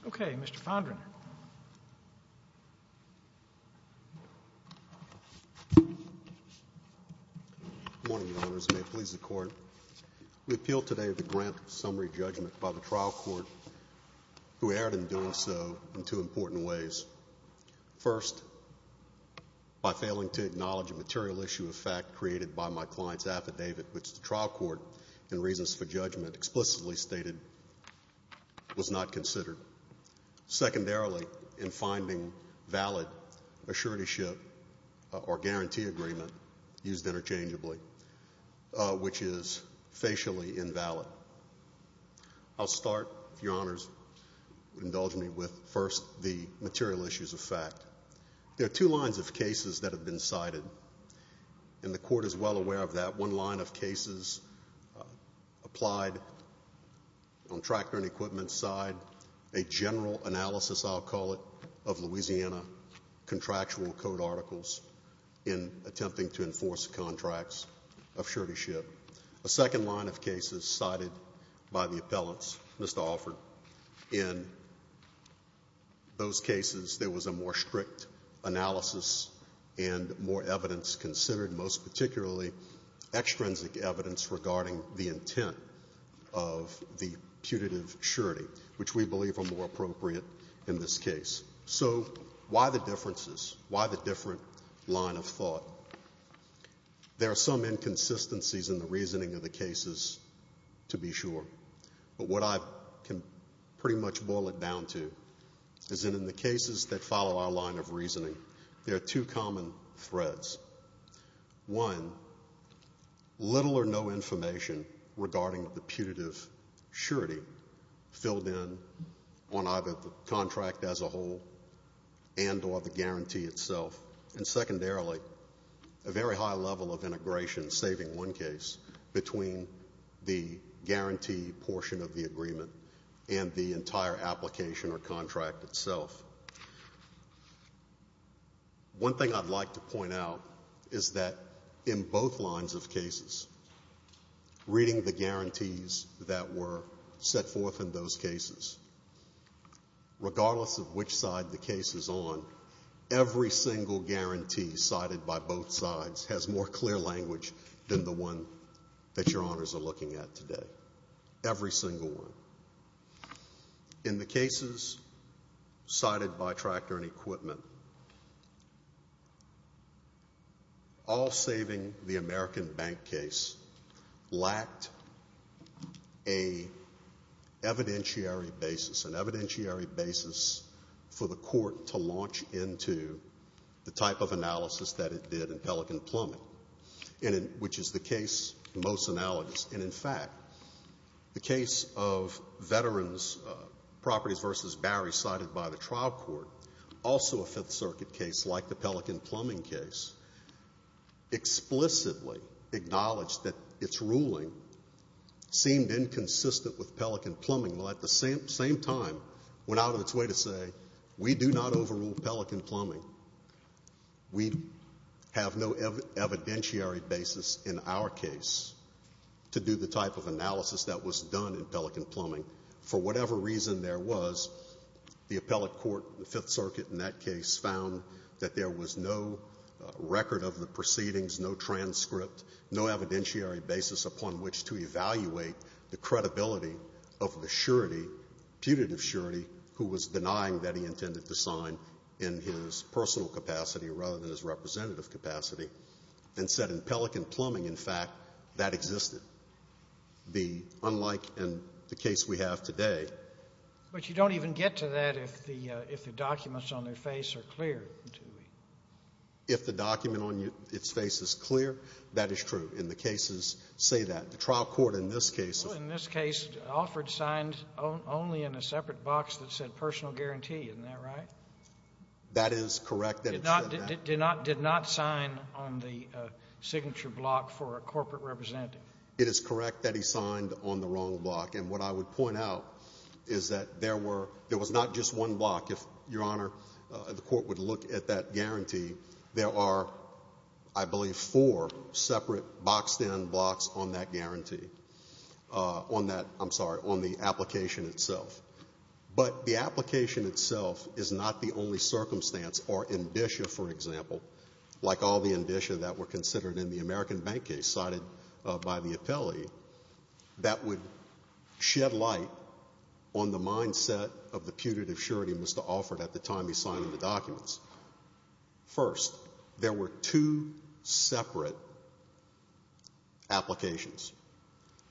Equipment Company v. Dual Trucking and Equipment Company v. Dual Trucking and Equipment Company O.K. Mr. Fondren. Good morning, Your Honors. May it please the court. We appeal today the grant of summary judgment by the trial court, who erred in doing so in two important ways. First, by failing to acknowledge a material issue of fact created by my client's affidavit, which the trial court, in reasons for judgment, explicitly stated was not considered. Secondarily, in finding valid assuranceship or guarantee agreement used interchangeably, which is facially invalid. I'll start, Your Honors, indulge me with first the material issues of fact. There are two lines of cases that have been cited, and the court is well aware of that. One line of cases applied on tractor and equipment side, a general analysis, I'll call it, of Louisiana contractual code articles in attempting to enforce contracts of suretyship. A second line of cases cited by the appellants, Mr. Alford, in those cases there was a more strict analysis and more evidence considered, most particularly extrinsic evidence regarding the intent of the putative surety, which we believe are more appropriate in this case. So why the differences? Why the different line of thought? Well, there are some inconsistencies in the reasoning of the cases, to be sure, but what I can pretty much boil it down to is that in the cases that follow our line of reasoning, there are two common threads. One, little or no information regarding the putative surety filled in on either the contract as a whole and or the guarantee itself, and secondarily, a very high level of integration, saving one case, between the guarantee portion of the agreement and the entire application or contract itself. One thing I'd like to point out is that in both lines of cases, reading the guarantees that were set forth in those cases, regardless of which side the case is on, every single guarantee cited by both sides has more clear language than the one that your honors are looking at today, every single one. In the cases cited by Tractor and Equipment, all saving the American Bank case lacked the a evidentiary basis, an evidentiary basis for the court to launch into the type of analysis that it did in Pelican Plumbing, which is the case most analogous, and in fact, the case of Veterans Properties v. Barry cited by the trial court, also a Fifth Circuit case like the Pelican Plumbing case, explicitly acknowledged that its ruling seemed inconsistent with Pelican Plumbing, while at the same time, went out of its way to say, we do not overrule Pelican Plumbing. We have no evidentiary basis in our case to do the type of analysis that was done in Pelican Plumbing. For whatever reason there was, the appellate court, the Fifth Circuit in that case, found that there was no record of the proceedings, no transcript, no evidentiary basis upon which to evaluate the credibility of the surety, putative surety, who was denying that he intended to sign in his personal capacity rather than his representative capacity, and said in Pelican Plumbing, in fact, that existed. The unlike in the case we have today — But you don't even get to that if the documents on their face are clear, do we? If the document on its face is clear, that is true. In the cases, say that. The trial court in this case — Well, in this case, Alford signed only in a separate box that said personal guarantee. Isn't that right? That is correct. Did not sign on the signature block for a corporate representative. It is correct that he signed on the wrong block. And what I would point out is that there were — there was not just one block. If, Your Honor, the court would look at that guarantee, there are, I believe, four separate boxed-in blocks on that guarantee, on that — I'm sorry, on the application itself. But the application itself is not the only circumstance, or ambitia, for example, like all the ambitia that were considered in the American bank case cited by the appellee, that would shed light on the mindset of the putative surety Mr. Alford at the time he signed the documents. First, there were two separate applications.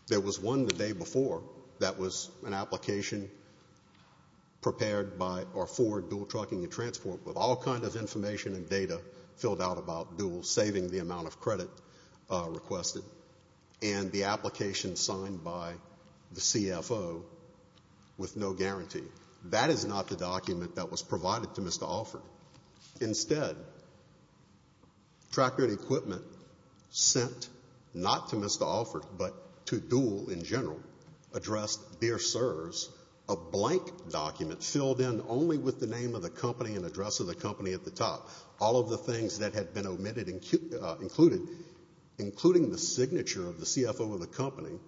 There was one the day before that was an application prepared by — or for dual trucking and transport with all kinds of information and data filled out about dual, saving the amount of credit requested, and the application signed by the CFO with no guarantee. That is not the document that was provided to Mr. Alford. Instead, tracker equipment sent not to Mr. Alford, but to dual in general, addressed Dear Sirs, a blank document filled in only with the name of the company and address of the company at the top. All of the things that had been omitted, including the signature of the CFO of the company,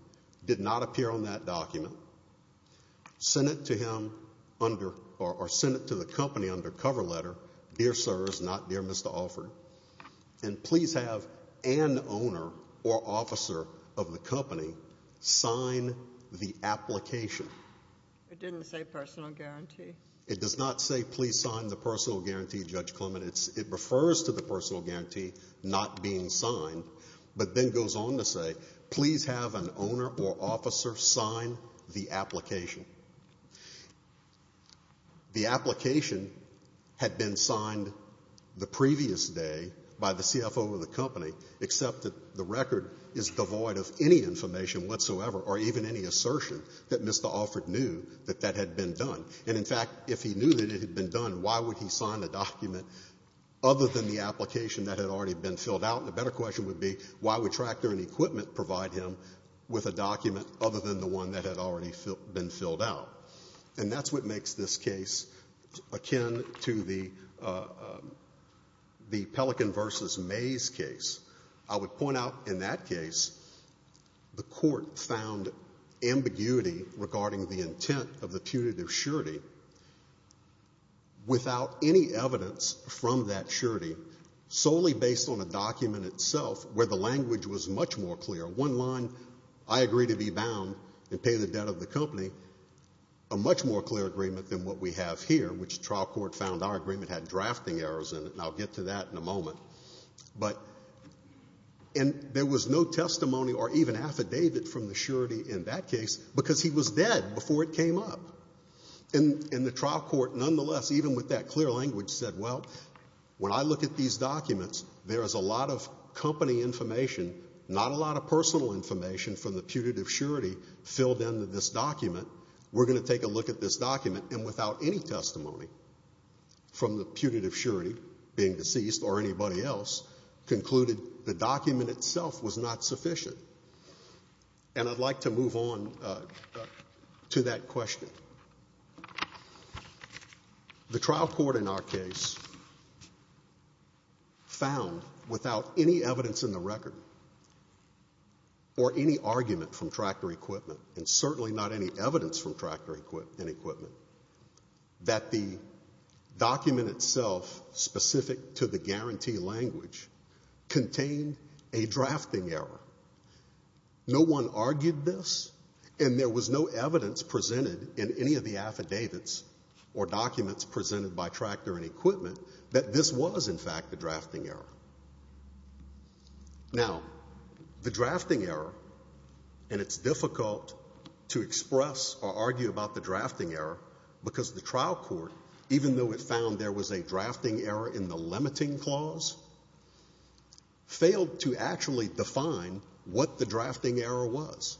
did not appear on that document. Sent it to him under — or sent it to the company under cover letter, Dear Sirs, not Dear Mr. Alford. And please have an owner or officer of the company sign the application. It didn't say personal guarantee. It does not say please sign the personal guarantee, Judge Clement. It refers to the personal guarantee not being signed, but then goes on to say please have an owner or officer sign the application. The application had been signed the previous day by the CFO of the company, except that the record is devoid of any information whatsoever or even any assertion that Mr. Alford knew that that had been done. And, in fact, if he knew that it had been done, why would he sign the document other than the application that had already been filled out? The better question would be why would tracker and equipment provide him with a document other than the one that had already been filled out? And that's what makes this case akin to the Pelican v. Mays case. I would point out in that case, the court found ambiguity regarding the intent of the punitive surety without any evidence from that surety, solely based on a document itself where the language was much more clear. One line, I agree to be bound and pay the debt of the company, a much more clear agreement than what we have here, which the trial court found our agreement had drafting errors in it, and I'll get to that in a moment. And there was no testimony or even affidavit from the surety in that case because he was dead before it came up. And the trial court, nonetheless, even with that clear language, said, well, when I look at these documents, there is a lot of company information, not a lot of personal information from the punitive surety filled into this document. We're going to take a look at this document. And without any testimony from the punitive surety, being deceased or anybody else, concluded the document itself was not sufficient. And I'd like to move on to that question. The trial court in our case found, without any evidence in the record or any argument from tractor equipment, and certainly not any evidence from tractor equipment, that the document itself, specific to the guarantee language, contained a drafting error. No one argued this, and there was no evidence presented in any of the affidavits or documents presented by tractor and equipment that this was, in fact, a drafting error. Now, the drafting error, and it's difficult to express or argue about the drafting error because the trial court, even though it found there was a drafting error in the limiting clause, failed to actually define what the drafting error was.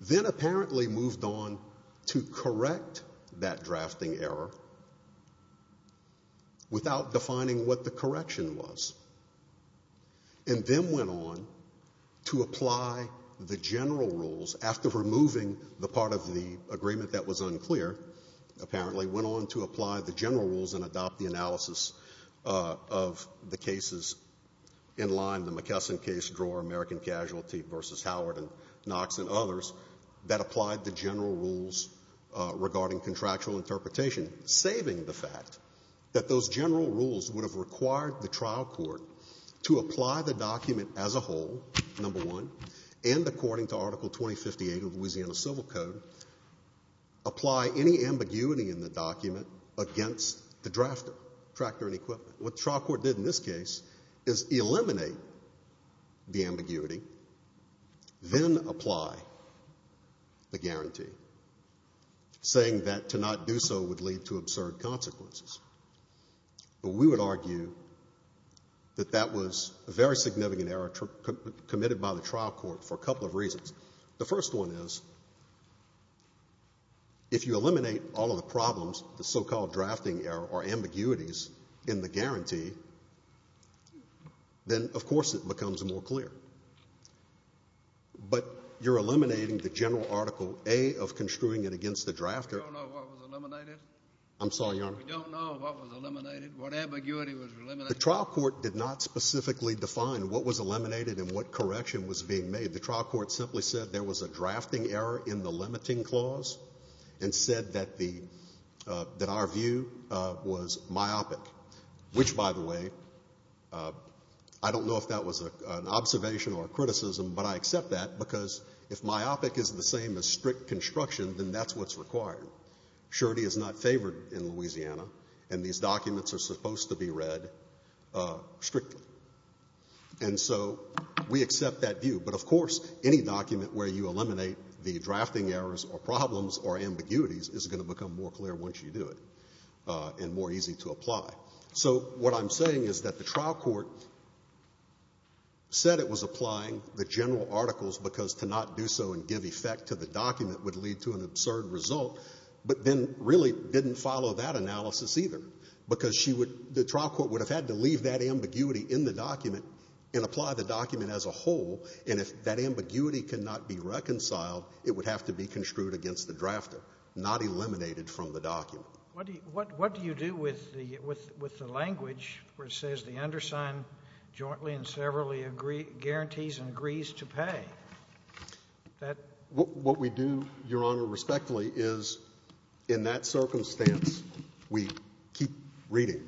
Then apparently moved on to correct that drafting error without defining what the correction was, and then went on to apply the general rules after removing the part of the agreement that was unclear, apparently, went on to apply the general rules and adopt the analysis of the cases in line, the McKesson case, drawer, American Casualty v. Howard and Knox and others, that applied the general rules regarding contractual interpretation, saving the fact that those general rules would have required the trial court to apply the document as a whole, number 1, and according to Article 2058 of the Louisiana Civil Code, apply any ambiguity in the document against the drafter, tractor and equipment. What the trial court did in this case is eliminate the ambiguity, then apply the guarantee, saying that to not do so would lead to absurd consequences, but we would argue that that was a very significant error committed by the trial court for a couple of reasons. The first one is, if you eliminate all of the problems, the so-called drafting error or ambiguities in the guarantee, then, of course, it becomes more clear. But you're eliminating the general Article A of construing it against the drafter. We don't know what was eliminated. I'm sorry, Your Honor. We don't know what was eliminated, what ambiguity was eliminated. The trial court did not specifically define what was eliminated and what correction was being made. The trial court simply said there was a drafting error in the limiting clause and said that our view was myopic, which, by the way, I don't know if that was an observation or criticism, but I accept that because if myopic is the same as strict construction, then that's what's required. Surety is not favored in Louisiana, and these documents are supposed to be read strictly. And so we accept that view, but, of course, any document where you eliminate the drafting errors or problems or ambiguities is going to become more clear once you do it and more easy to apply. So what I'm saying is that the trial court said it was applying the general articles because to not do so and give effect to the document would lead to an absurd result, but then really didn't follow that analysis either, because she would — the trial court would have had to leave that ambiguity in the document and apply the document as a whole, and if that ambiguity could not be reconciled, it would have to be construed against the drafter, not eliminated from the document. What do you do with the language where it says the undersigned jointly and severally guarantees and agrees to pay? What we do, Your Honor, respectfully, is in that circumstance we keep reading,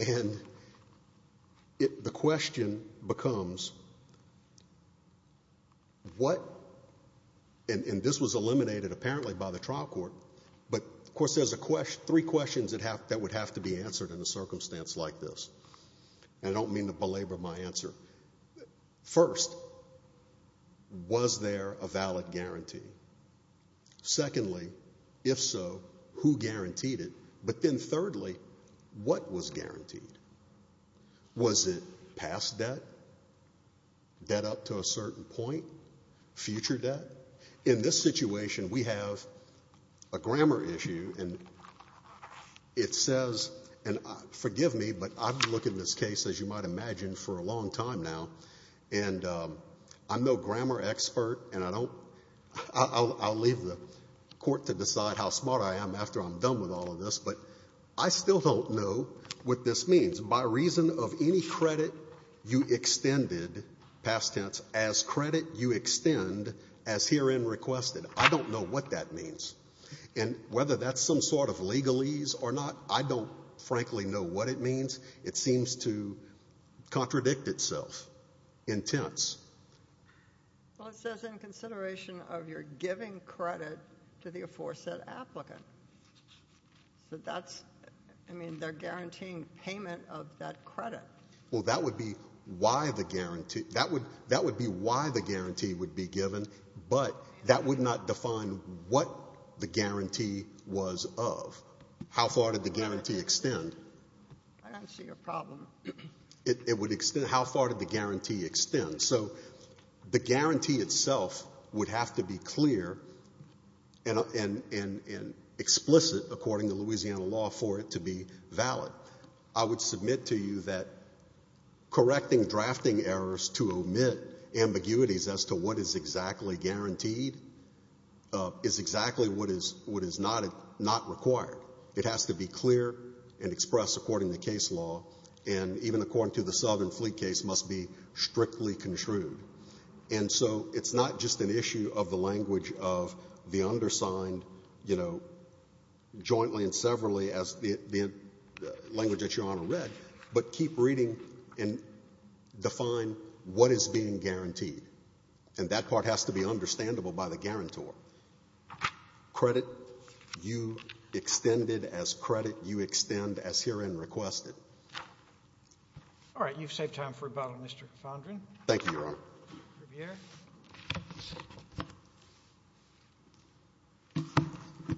and the question becomes, what — and this was eliminated apparently by the trial court, but, of course, there's a question — three questions that would have to be answered in a circumstance like this. And I don't mean to belabor my answer. First, was there a valid guarantee? Secondly, if so, who guaranteed it? But then thirdly, what was guaranteed? Was it past debt, debt up to a certain point, future debt? In this situation, we have a grammar issue, and it says — and forgive me, but I've been looking at this case, as you might imagine, for a long time now, and I'm no grammar expert, and I don't — I'll leave the Court to decide how smart I am after I'm done with all of this, but I still don't know what this means. By reason of any credit you extended, past tense, as credit you extend, as herein requested, I don't know what that means. And whether that's some sort of legalese or not, I don't, frankly, know what it means. It seems to contradict itself in tense. Well, it says, in consideration of your giving credit to the aforesaid applicant, so that's — I mean, they're guaranteeing payment of that credit. Well, that would be why the guarantee — that would be why the guarantee would be given, but that would not define what the guarantee was of. How far did the guarantee extend? I don't see your problem. It would extend — how far did the guarantee extend? So the guarantee itself would have to be clear and explicit, according to Louisiana law, for it to be valid. I would submit to you that correcting drafting errors to omit ambiguities as to what is exactly guaranteed is exactly what is not required. It has to be clear and expressed according to case law, and even according to the Southern Fleet case, must be strictly construed. And so it's not just an issue of the language of the undersigned, you know, jointly and as the language that Your Honor read, but keep reading and define what is being guaranteed. And that part has to be understandable by the guarantor. Credit you extended as credit you extend as herein requested. All right. You've saved time for rebuttal, Mr. Fondren. Thank you, Your Honor. Riviere?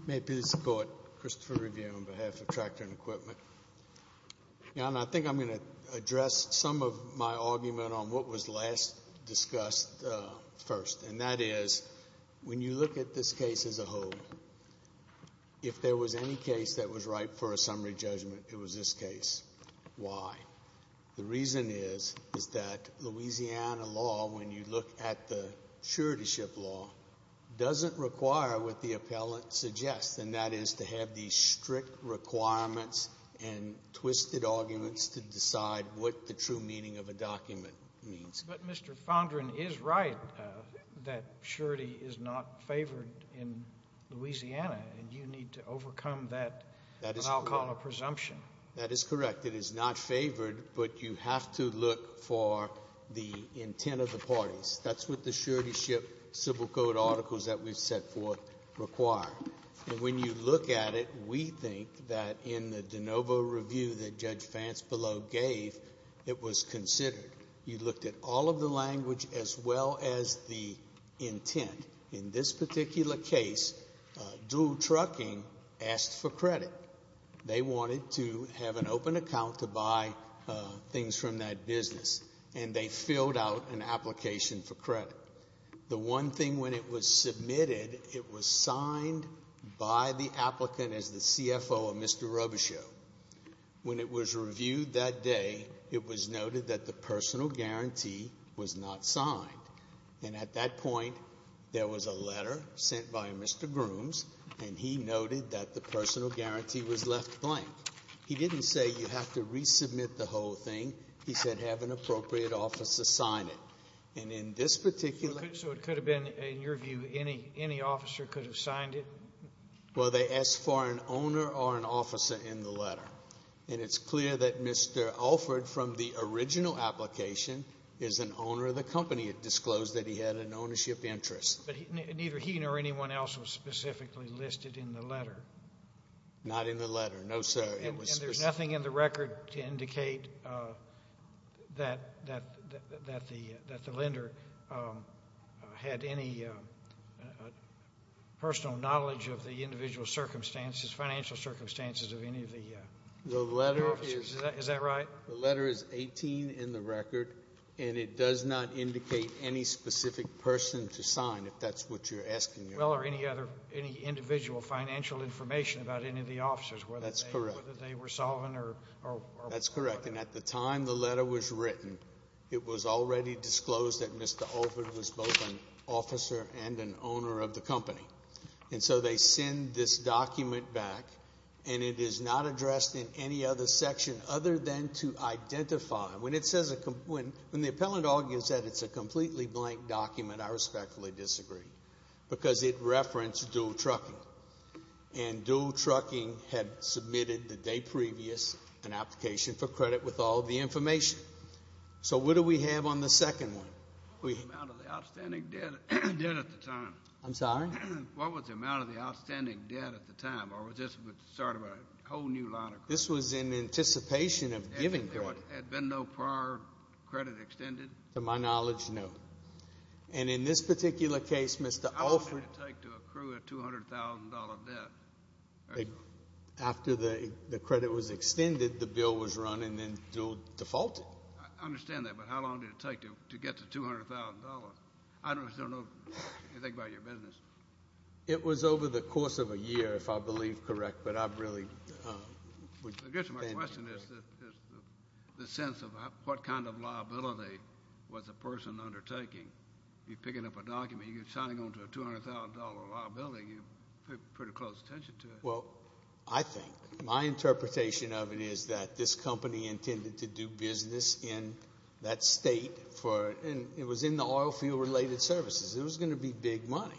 May it please the Court, Christopher Riviere on behalf of Tractor and Equipment. Your Honor, I think I'm going to address some of my argument on what was last discussed first, and that is, when you look at this case as a whole, if there was any case that was ripe for a summary judgment, it was this case. Why? The reason is, is that Louisiana law, when you look at the suretyship law, doesn't require what the appellant suggests, and that is to have these strict requirements and twisted arguments to decide what the true meaning of a document means. But Mr. Fondren is right that surety is not favored in Louisiana, and you need to overcome that, what I'll call a presumption. That is correct. It is not favored, but you have to look for the intent of the parties. That's what the suretyship civil code articles that we've set forth require. When you look at it, we think that in the de novo review that Judge Fancebelow gave, it was considered. You looked at all of the language as well as the intent. In this particular case, Dual Trucking asked for credit. They wanted to have an open account to buy things from that business, and they filled out an application for credit. The one thing when it was submitted, it was signed by the applicant as the CFO of Mr. Robichaud. When it was reviewed that day, it was noted that the personal guarantee was not signed, and at that point, there was a letter sent by Mr. Grooms, and he noted that the personal guarantee was left blank. He didn't say you have to resubmit the whole thing. He said have an appropriate officer sign it. And in this particular case, so it could have been, in your view, any officer could have signed it? Well, they asked for an owner or an officer in the letter, and it's clear that Mr. Alford from the original application is an owner of the company. It disclosed that he had an ownership interest. But neither he nor anyone else was specifically listed in the letter? Not in the letter, no, sir. It was specific. And there's nothing in the record to indicate that the lender had any personal knowledge of the individual circumstances, financial circumstances of any of the officers. The letter is 18 in the record, and it does not indicate any specific person to sign, if that's what you're asking. Well, or any other, any individual financial information about any of the officers, whether they were solvent or whatever. That's correct, and at the time the letter was written, it was already disclosed that Mr. Alford was both an officer and an owner of the company. And so they send this document back, and it is not addressed in any other section other than to identify, when it says, when the appellant argues that it's a completely blank document, I respectfully disagree, because it referenced dual trucking, and dual trucking had submitted the day previous an application for credit with all of the information. So what do we have on the second one? What was the amount of the outstanding debt at the time? I'm sorry? What was the amount of the outstanding debt at the time, or was this sort of a whole new line of credit? This was in anticipation of giving credit. Had there been no prior credit extended? To my knowledge, no. And in this particular case, Mr. Alford... How long did it take to accrue a $200,000 debt? After the credit was extended, the bill was run, and then defaulted. I understand that, but how long did it take to get to $200,000? I just don't know anything about your business. It was over the course of a year, if I believe correct, but I really... I guess my question is the sense of what kind of liability was the person undertaking? You're picking up a document, you're signing on to a $200,000 liability, you pay pretty close attention to it. Well, I think, my interpretation of it is that this company intended to do business in that state, and it was in the oil field related services. It was going to be big money.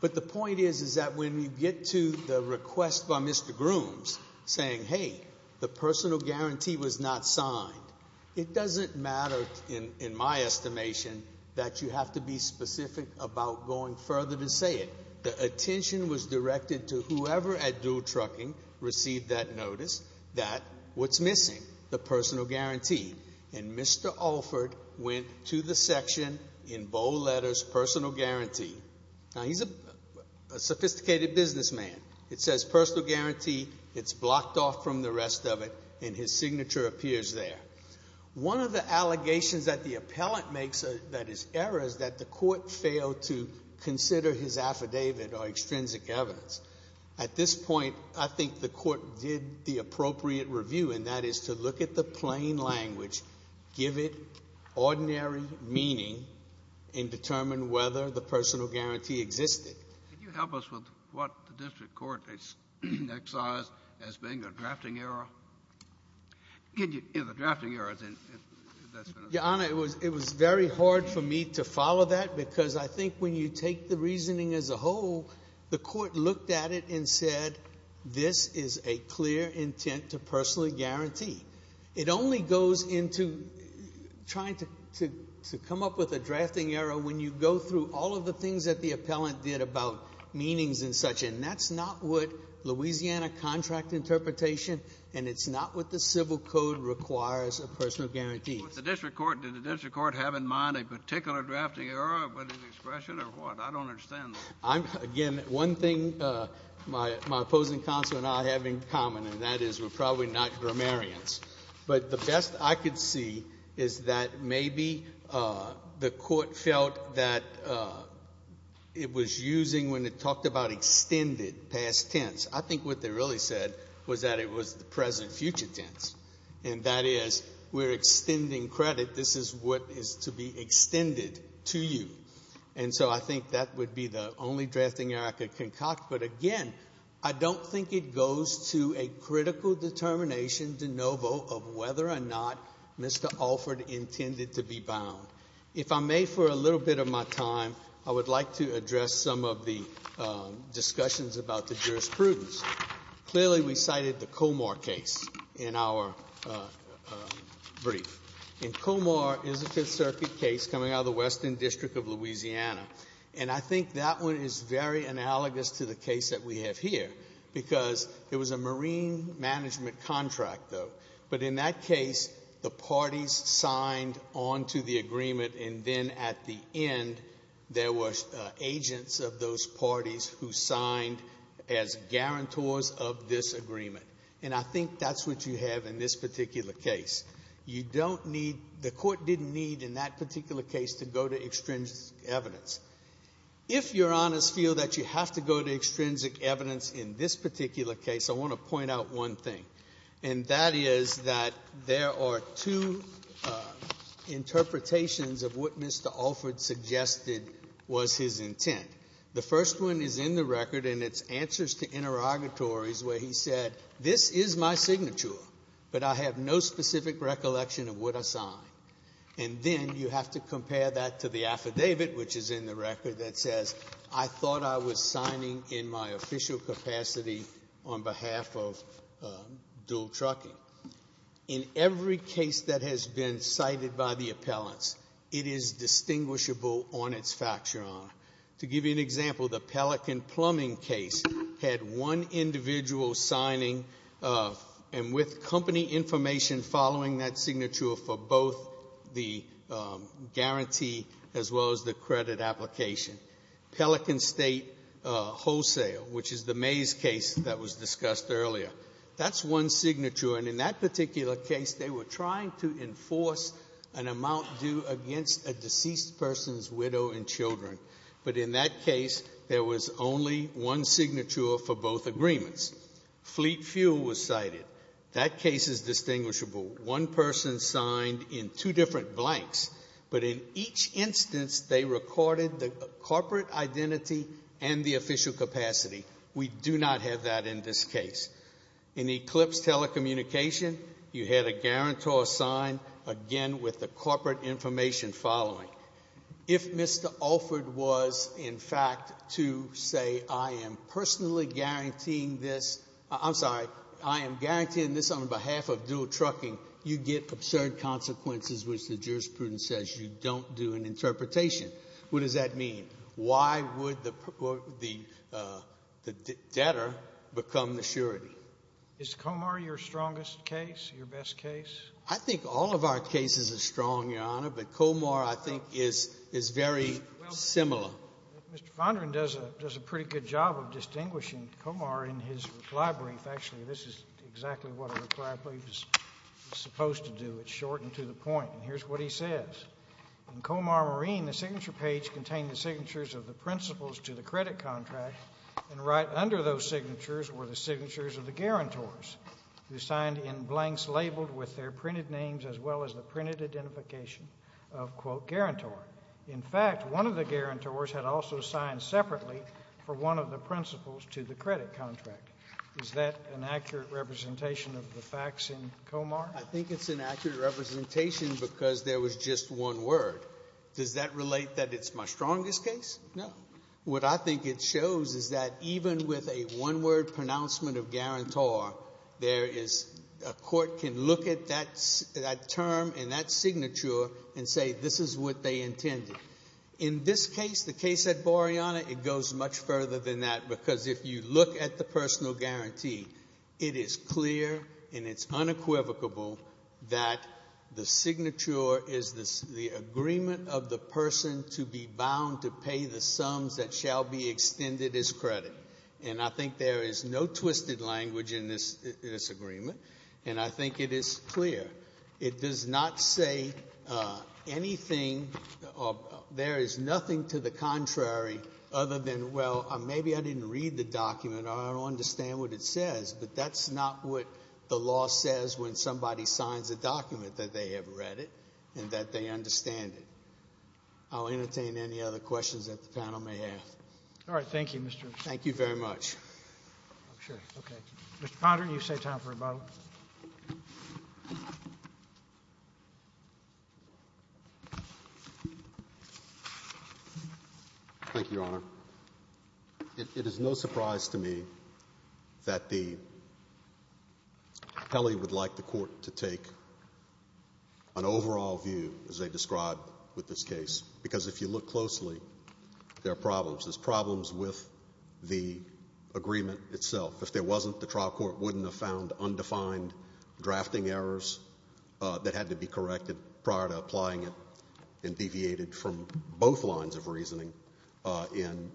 But the point is that when you get to the request by Mr. Grooms, saying, hey, the personal guarantee was not signed. It doesn't matter, in my estimation, that you have to be specific about going further to say it. The attention was directed to whoever at Dual Trucking received that notice, that what's missing, the personal guarantee, and Mr. Alford went to the section in bold letters, personal guarantee. Now, he's a sophisticated businessman. It says personal guarantee. It's blocked off from the rest of it, and his signature appears there. One of the allegations that the appellant makes that is error is that the court failed to consider his affidavit or extrinsic evidence. At this point, I think the court did the appropriate review, and that is to look at the plain language, give it ordinary meaning, and determine whether the personal guarantee existed. Can you help us with what the district court excised as being a drafting error? Can you, you know, the drafting error, as in, that's been a... Your Honor, it was very hard for me to follow that because I think when you take the reasoning as a whole, the court looked at it and said, this is a clear intent to personal guarantee. It only goes into trying to come up with a drafting error when you go through all of the things that the appellant did about meanings and such, and that's not what Louisiana contract interpretation and it's not what the civil code requires a personal guarantee. But the district court, did the district court have in mind a particular drafting error, whether it's expression or what? I don't understand that. I'm, again, one thing my opposing counsel and I have in common, and that is we're probably not grammarians, but the best I could see is that maybe the court felt that it was using, when it talked about extended past tense, I think what they really said was that it was the present future tense. And that is, we're extending credit, this is what is to be extended to you. And so I think that would be the only drafting error I could concoct. But again, I don't think it goes to a critical determination de novo of whether or not Mr. Alford intended to be bound. If I may, for a little bit of my time, I would like to address some of the discussions about the jurisprudence. Clearly, we cited the Comar case in our brief. And Comar is a Fifth Circuit case coming out of the Western District of Louisiana. And I think that one is very analogous to the case that we have here, because it was a marine management contract, though. But in that case, the parties signed onto the agreement, and then at the end, there were agents of those parties who signed as guarantors of this agreement. And I think that's what you have in this particular case. You don't need, the Court didn't need in that particular case to go to extrinsic evidence. If Your Honors feel that you have to go to extrinsic evidence in this particular case, I want to point out one thing. And that is that there are two interpretations of what Mr. Alford suggested was his intent. The first one is in the record, and it's answers to interrogatories, where he said, this is my signature, but I have no specific recollection of what I signed. And then you have to compare that to the affidavit, which is in the record, that says, I thought I was signing in my official capacity on behalf of dual trucking. In every case that has been cited by the appellants, it is distinguishable on its fact, Your Honor. To give you an example, the Pelican plumbing case had one individual signing, and with company information following that signature for both the guarantee as well as the credit application. Pelican State Wholesale, which is the Mays case that was discussed earlier, that's one signature. And in that particular case, they were trying to enforce an amount due against a deceased person's widow and children. But in that case, there was only one signature for both agreements. Fleet Fuel was cited. That case is distinguishable. One person signed in two different blanks, but in each instance, they recorded the corporate identity and the official capacity. We do not have that in this case. In Eclipse Telecommunication, you had a guarantor sign, again, with the corporate information following. If Mr. Alford was, in fact, to say, I am personally guaranteeing this, I'm sorry, I am guaranteeing this on behalf of dual trucking, you get absurd consequences, which the jurisprudence says you don't do an interpretation. What does that mean? Why would the debtor become the surety? Is Comar your strongest case, your best case? I think all of our cases are strong, Your Honor, but Comar, I think, is very similar. Well, Mr. Fondren does a pretty good job of distinguishing Comar in his reply brief. Actually, this is exactly what a reply brief is supposed to do. It's shortened to the point, and here's what he says. In Comar Marine, the signature page contained the signatures of the principals to the credit contract, and right under those signatures were the signatures of the guarantors, who signed in blanks labeled with their printed names as well as the printed identification of, quote, guarantor. In fact, one of the guarantors had also signed separately for one of the principals to the credit contract. Is that an accurate representation of the facts in Comar? I think it's an accurate representation because there was just one word. Does that relate that it's my strongest case? No. What I think it shows is that even with a one-word pronouncement of guarantor, there is — a court can look at that term and that signature and say this is what they intended. In this case, the case at Boreana, it goes much further than that because if you look at the personal guarantee, it is clear and it's unequivocable that the signature is the agreement of the person to be bound to pay the sums that shall be extended as credit. And I think there is no twisted language in this agreement, and I think it is clear. It does not say anything — there is nothing to the contrary other than, well, maybe I don't understand what it says, but that's not what the law says when somebody signs a document that they have read it and that they understand it. I'll entertain any other questions that the panel may have. All right. Thank you, Mr. — Thank you very much. I'm sure. Okay. Thank you, Your Honor. It is no surprise to me that the — Kelly would like the court to take an overall view, as they described with this case, because if you look closely, there are problems. There's problems with the agreement itself. If there wasn't, the trial court wouldn't have found undefined drafting errors that had to be corrected prior to applying it and deviated from both lines of reasoning in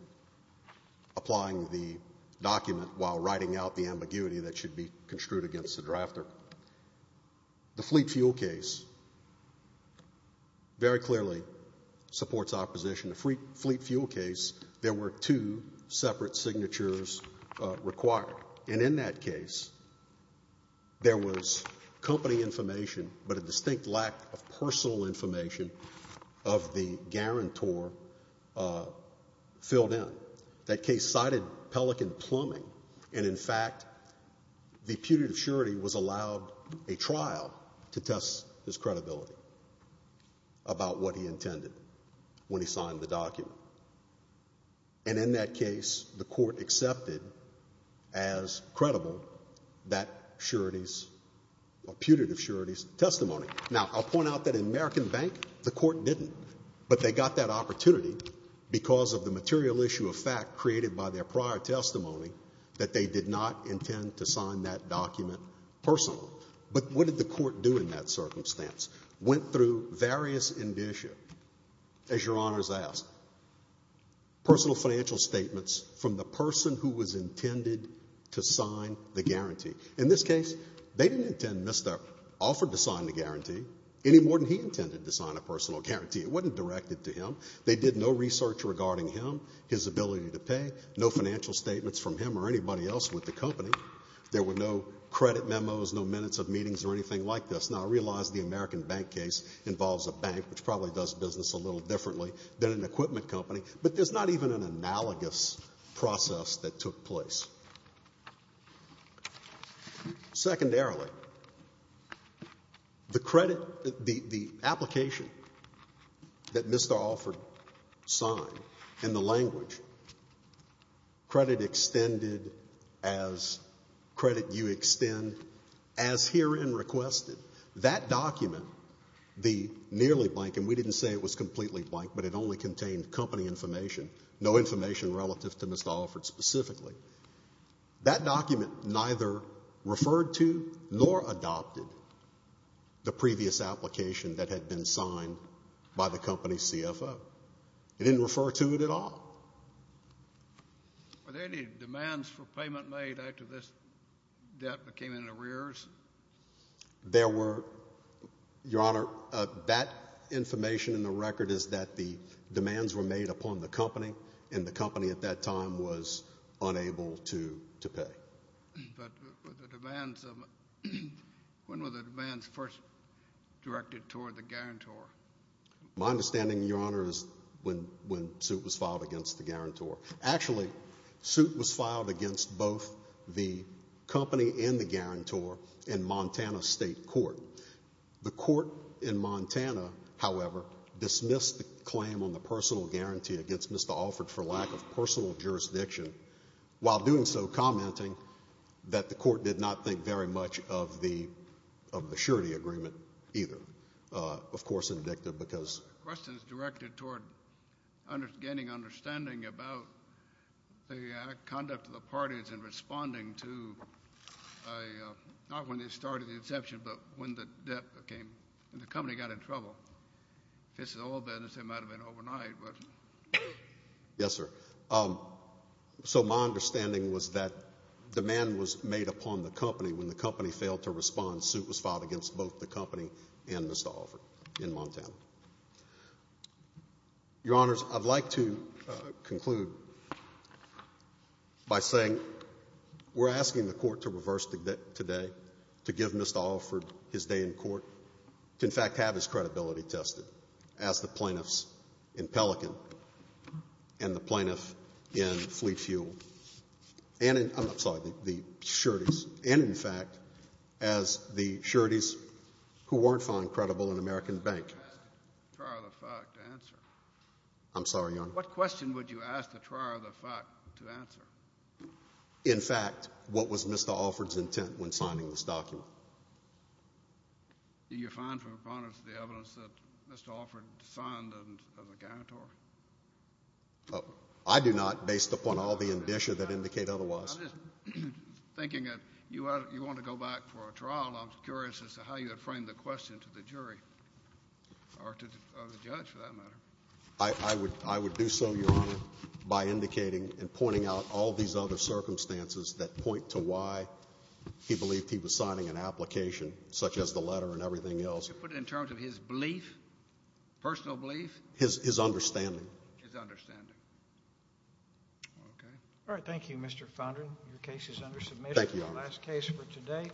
applying the document while writing out the ambiguity that should be construed against the drafter. The Fleet Fuel case very clearly supports opposition. The Fleet Fuel case, there were two separate signatures required. And in that case, there was company information, but a distinct lack of personal information of the guarantor filled in. That case cited Pelican Plumbing. And in fact, the putative surety was allowed a trial to test his credibility about what he intended when he signed the document. And in that case, the court accepted as credible that surety's — or putative surety's testimony. Now, I'll point out that in American Bank, the court didn't. But they got that opportunity because of the material issue of fact created by their prior testimony that they did not intend to sign that document personally. But what did the court do in that circumstance? Went through various — as Your Honors asked — personal financial statements from the person who was intended to sign the guarantee. In this case, they didn't intend Mr. Offord to sign the guarantee any more than he intended to sign a personal guarantee. It wasn't directed to him. They did no research regarding him, his ability to pay, no financial statements from him or anybody else with the company. There were no credit memos, no minutes of meetings or anything like this. Now, I realize the American Bank case involves a bank, which probably does business a little differently than an equipment company. But there's not even an analogous process that took place. Secondarily, the credit — the application that Mr. Offord signed in the language, credit extended as credit you extend, as herein requested. That document, the nearly blank — and we didn't say it was completely blank, but it only contained company information, no information relative to Mr. Offord specifically — that document neither referred to nor adopted the previous application that had been signed by the company's CFO. It didn't refer to it at all. Were there any demands for payment made after this debt became in arrears? There were, Your Honor. That information in the record is that the demands were made upon the company, and the But were the demands — when were the demands first directed toward the guarantor? My understanding, Your Honor, is when suit was filed against the guarantor. Actually, suit was filed against both the company and the guarantor in Montana State Court. The court in Montana, however, dismissed the claim on the personal guarantee against Mr. Offord for lack of personal jurisdiction, while doing so commenting that the court did not think very much of the surety agreement either. Of course, indicted because — Questions directed toward gaining understanding about the conduct of the parties in responding to not when they started the inception, but when the debt became — when the company got in trouble. This is all business. It might have been overnight, but — Yes, sir. So my understanding was that demand was made upon the company. When the company failed to respond, suit was filed against both the company and Mr. Offord in Montana. Your Honors, I'd like to conclude by saying we're asking the court to reverse the debt today, to give Mr. Offord his day in court, to, in fact, have his credibility tested as the plaintiffs in Pelican and the plaintiff in Fleet Fuel and — I'm sorry, the sureties — and, in fact, as the sureties who weren't found credible in American Bank. You asked the trier of the fact to answer. I'm sorry, Your Honor. What question would you ask the trier of the fact to answer? In fact, what was Mr. Offord's intent when signing this document? Do you find from opponents the evidence that Mr. Offord signed as a guarantor? I do not, based upon all the indicia that indicate otherwise. I'm just thinking that you want to go back for a trial. I'm curious as to how you would frame the question to the jury or the judge, for that matter. I would do so, Your Honor, by indicating and pointing out all these other circumstances that point to why he believed he was signing an application, such as the letter and everything else. Would you put it in terms of his belief, personal belief? His understanding. His understanding. Okay. All right. Thank you, Mr. Foundry. Your case is under submission. Thank you, Your Honor. The last case for today.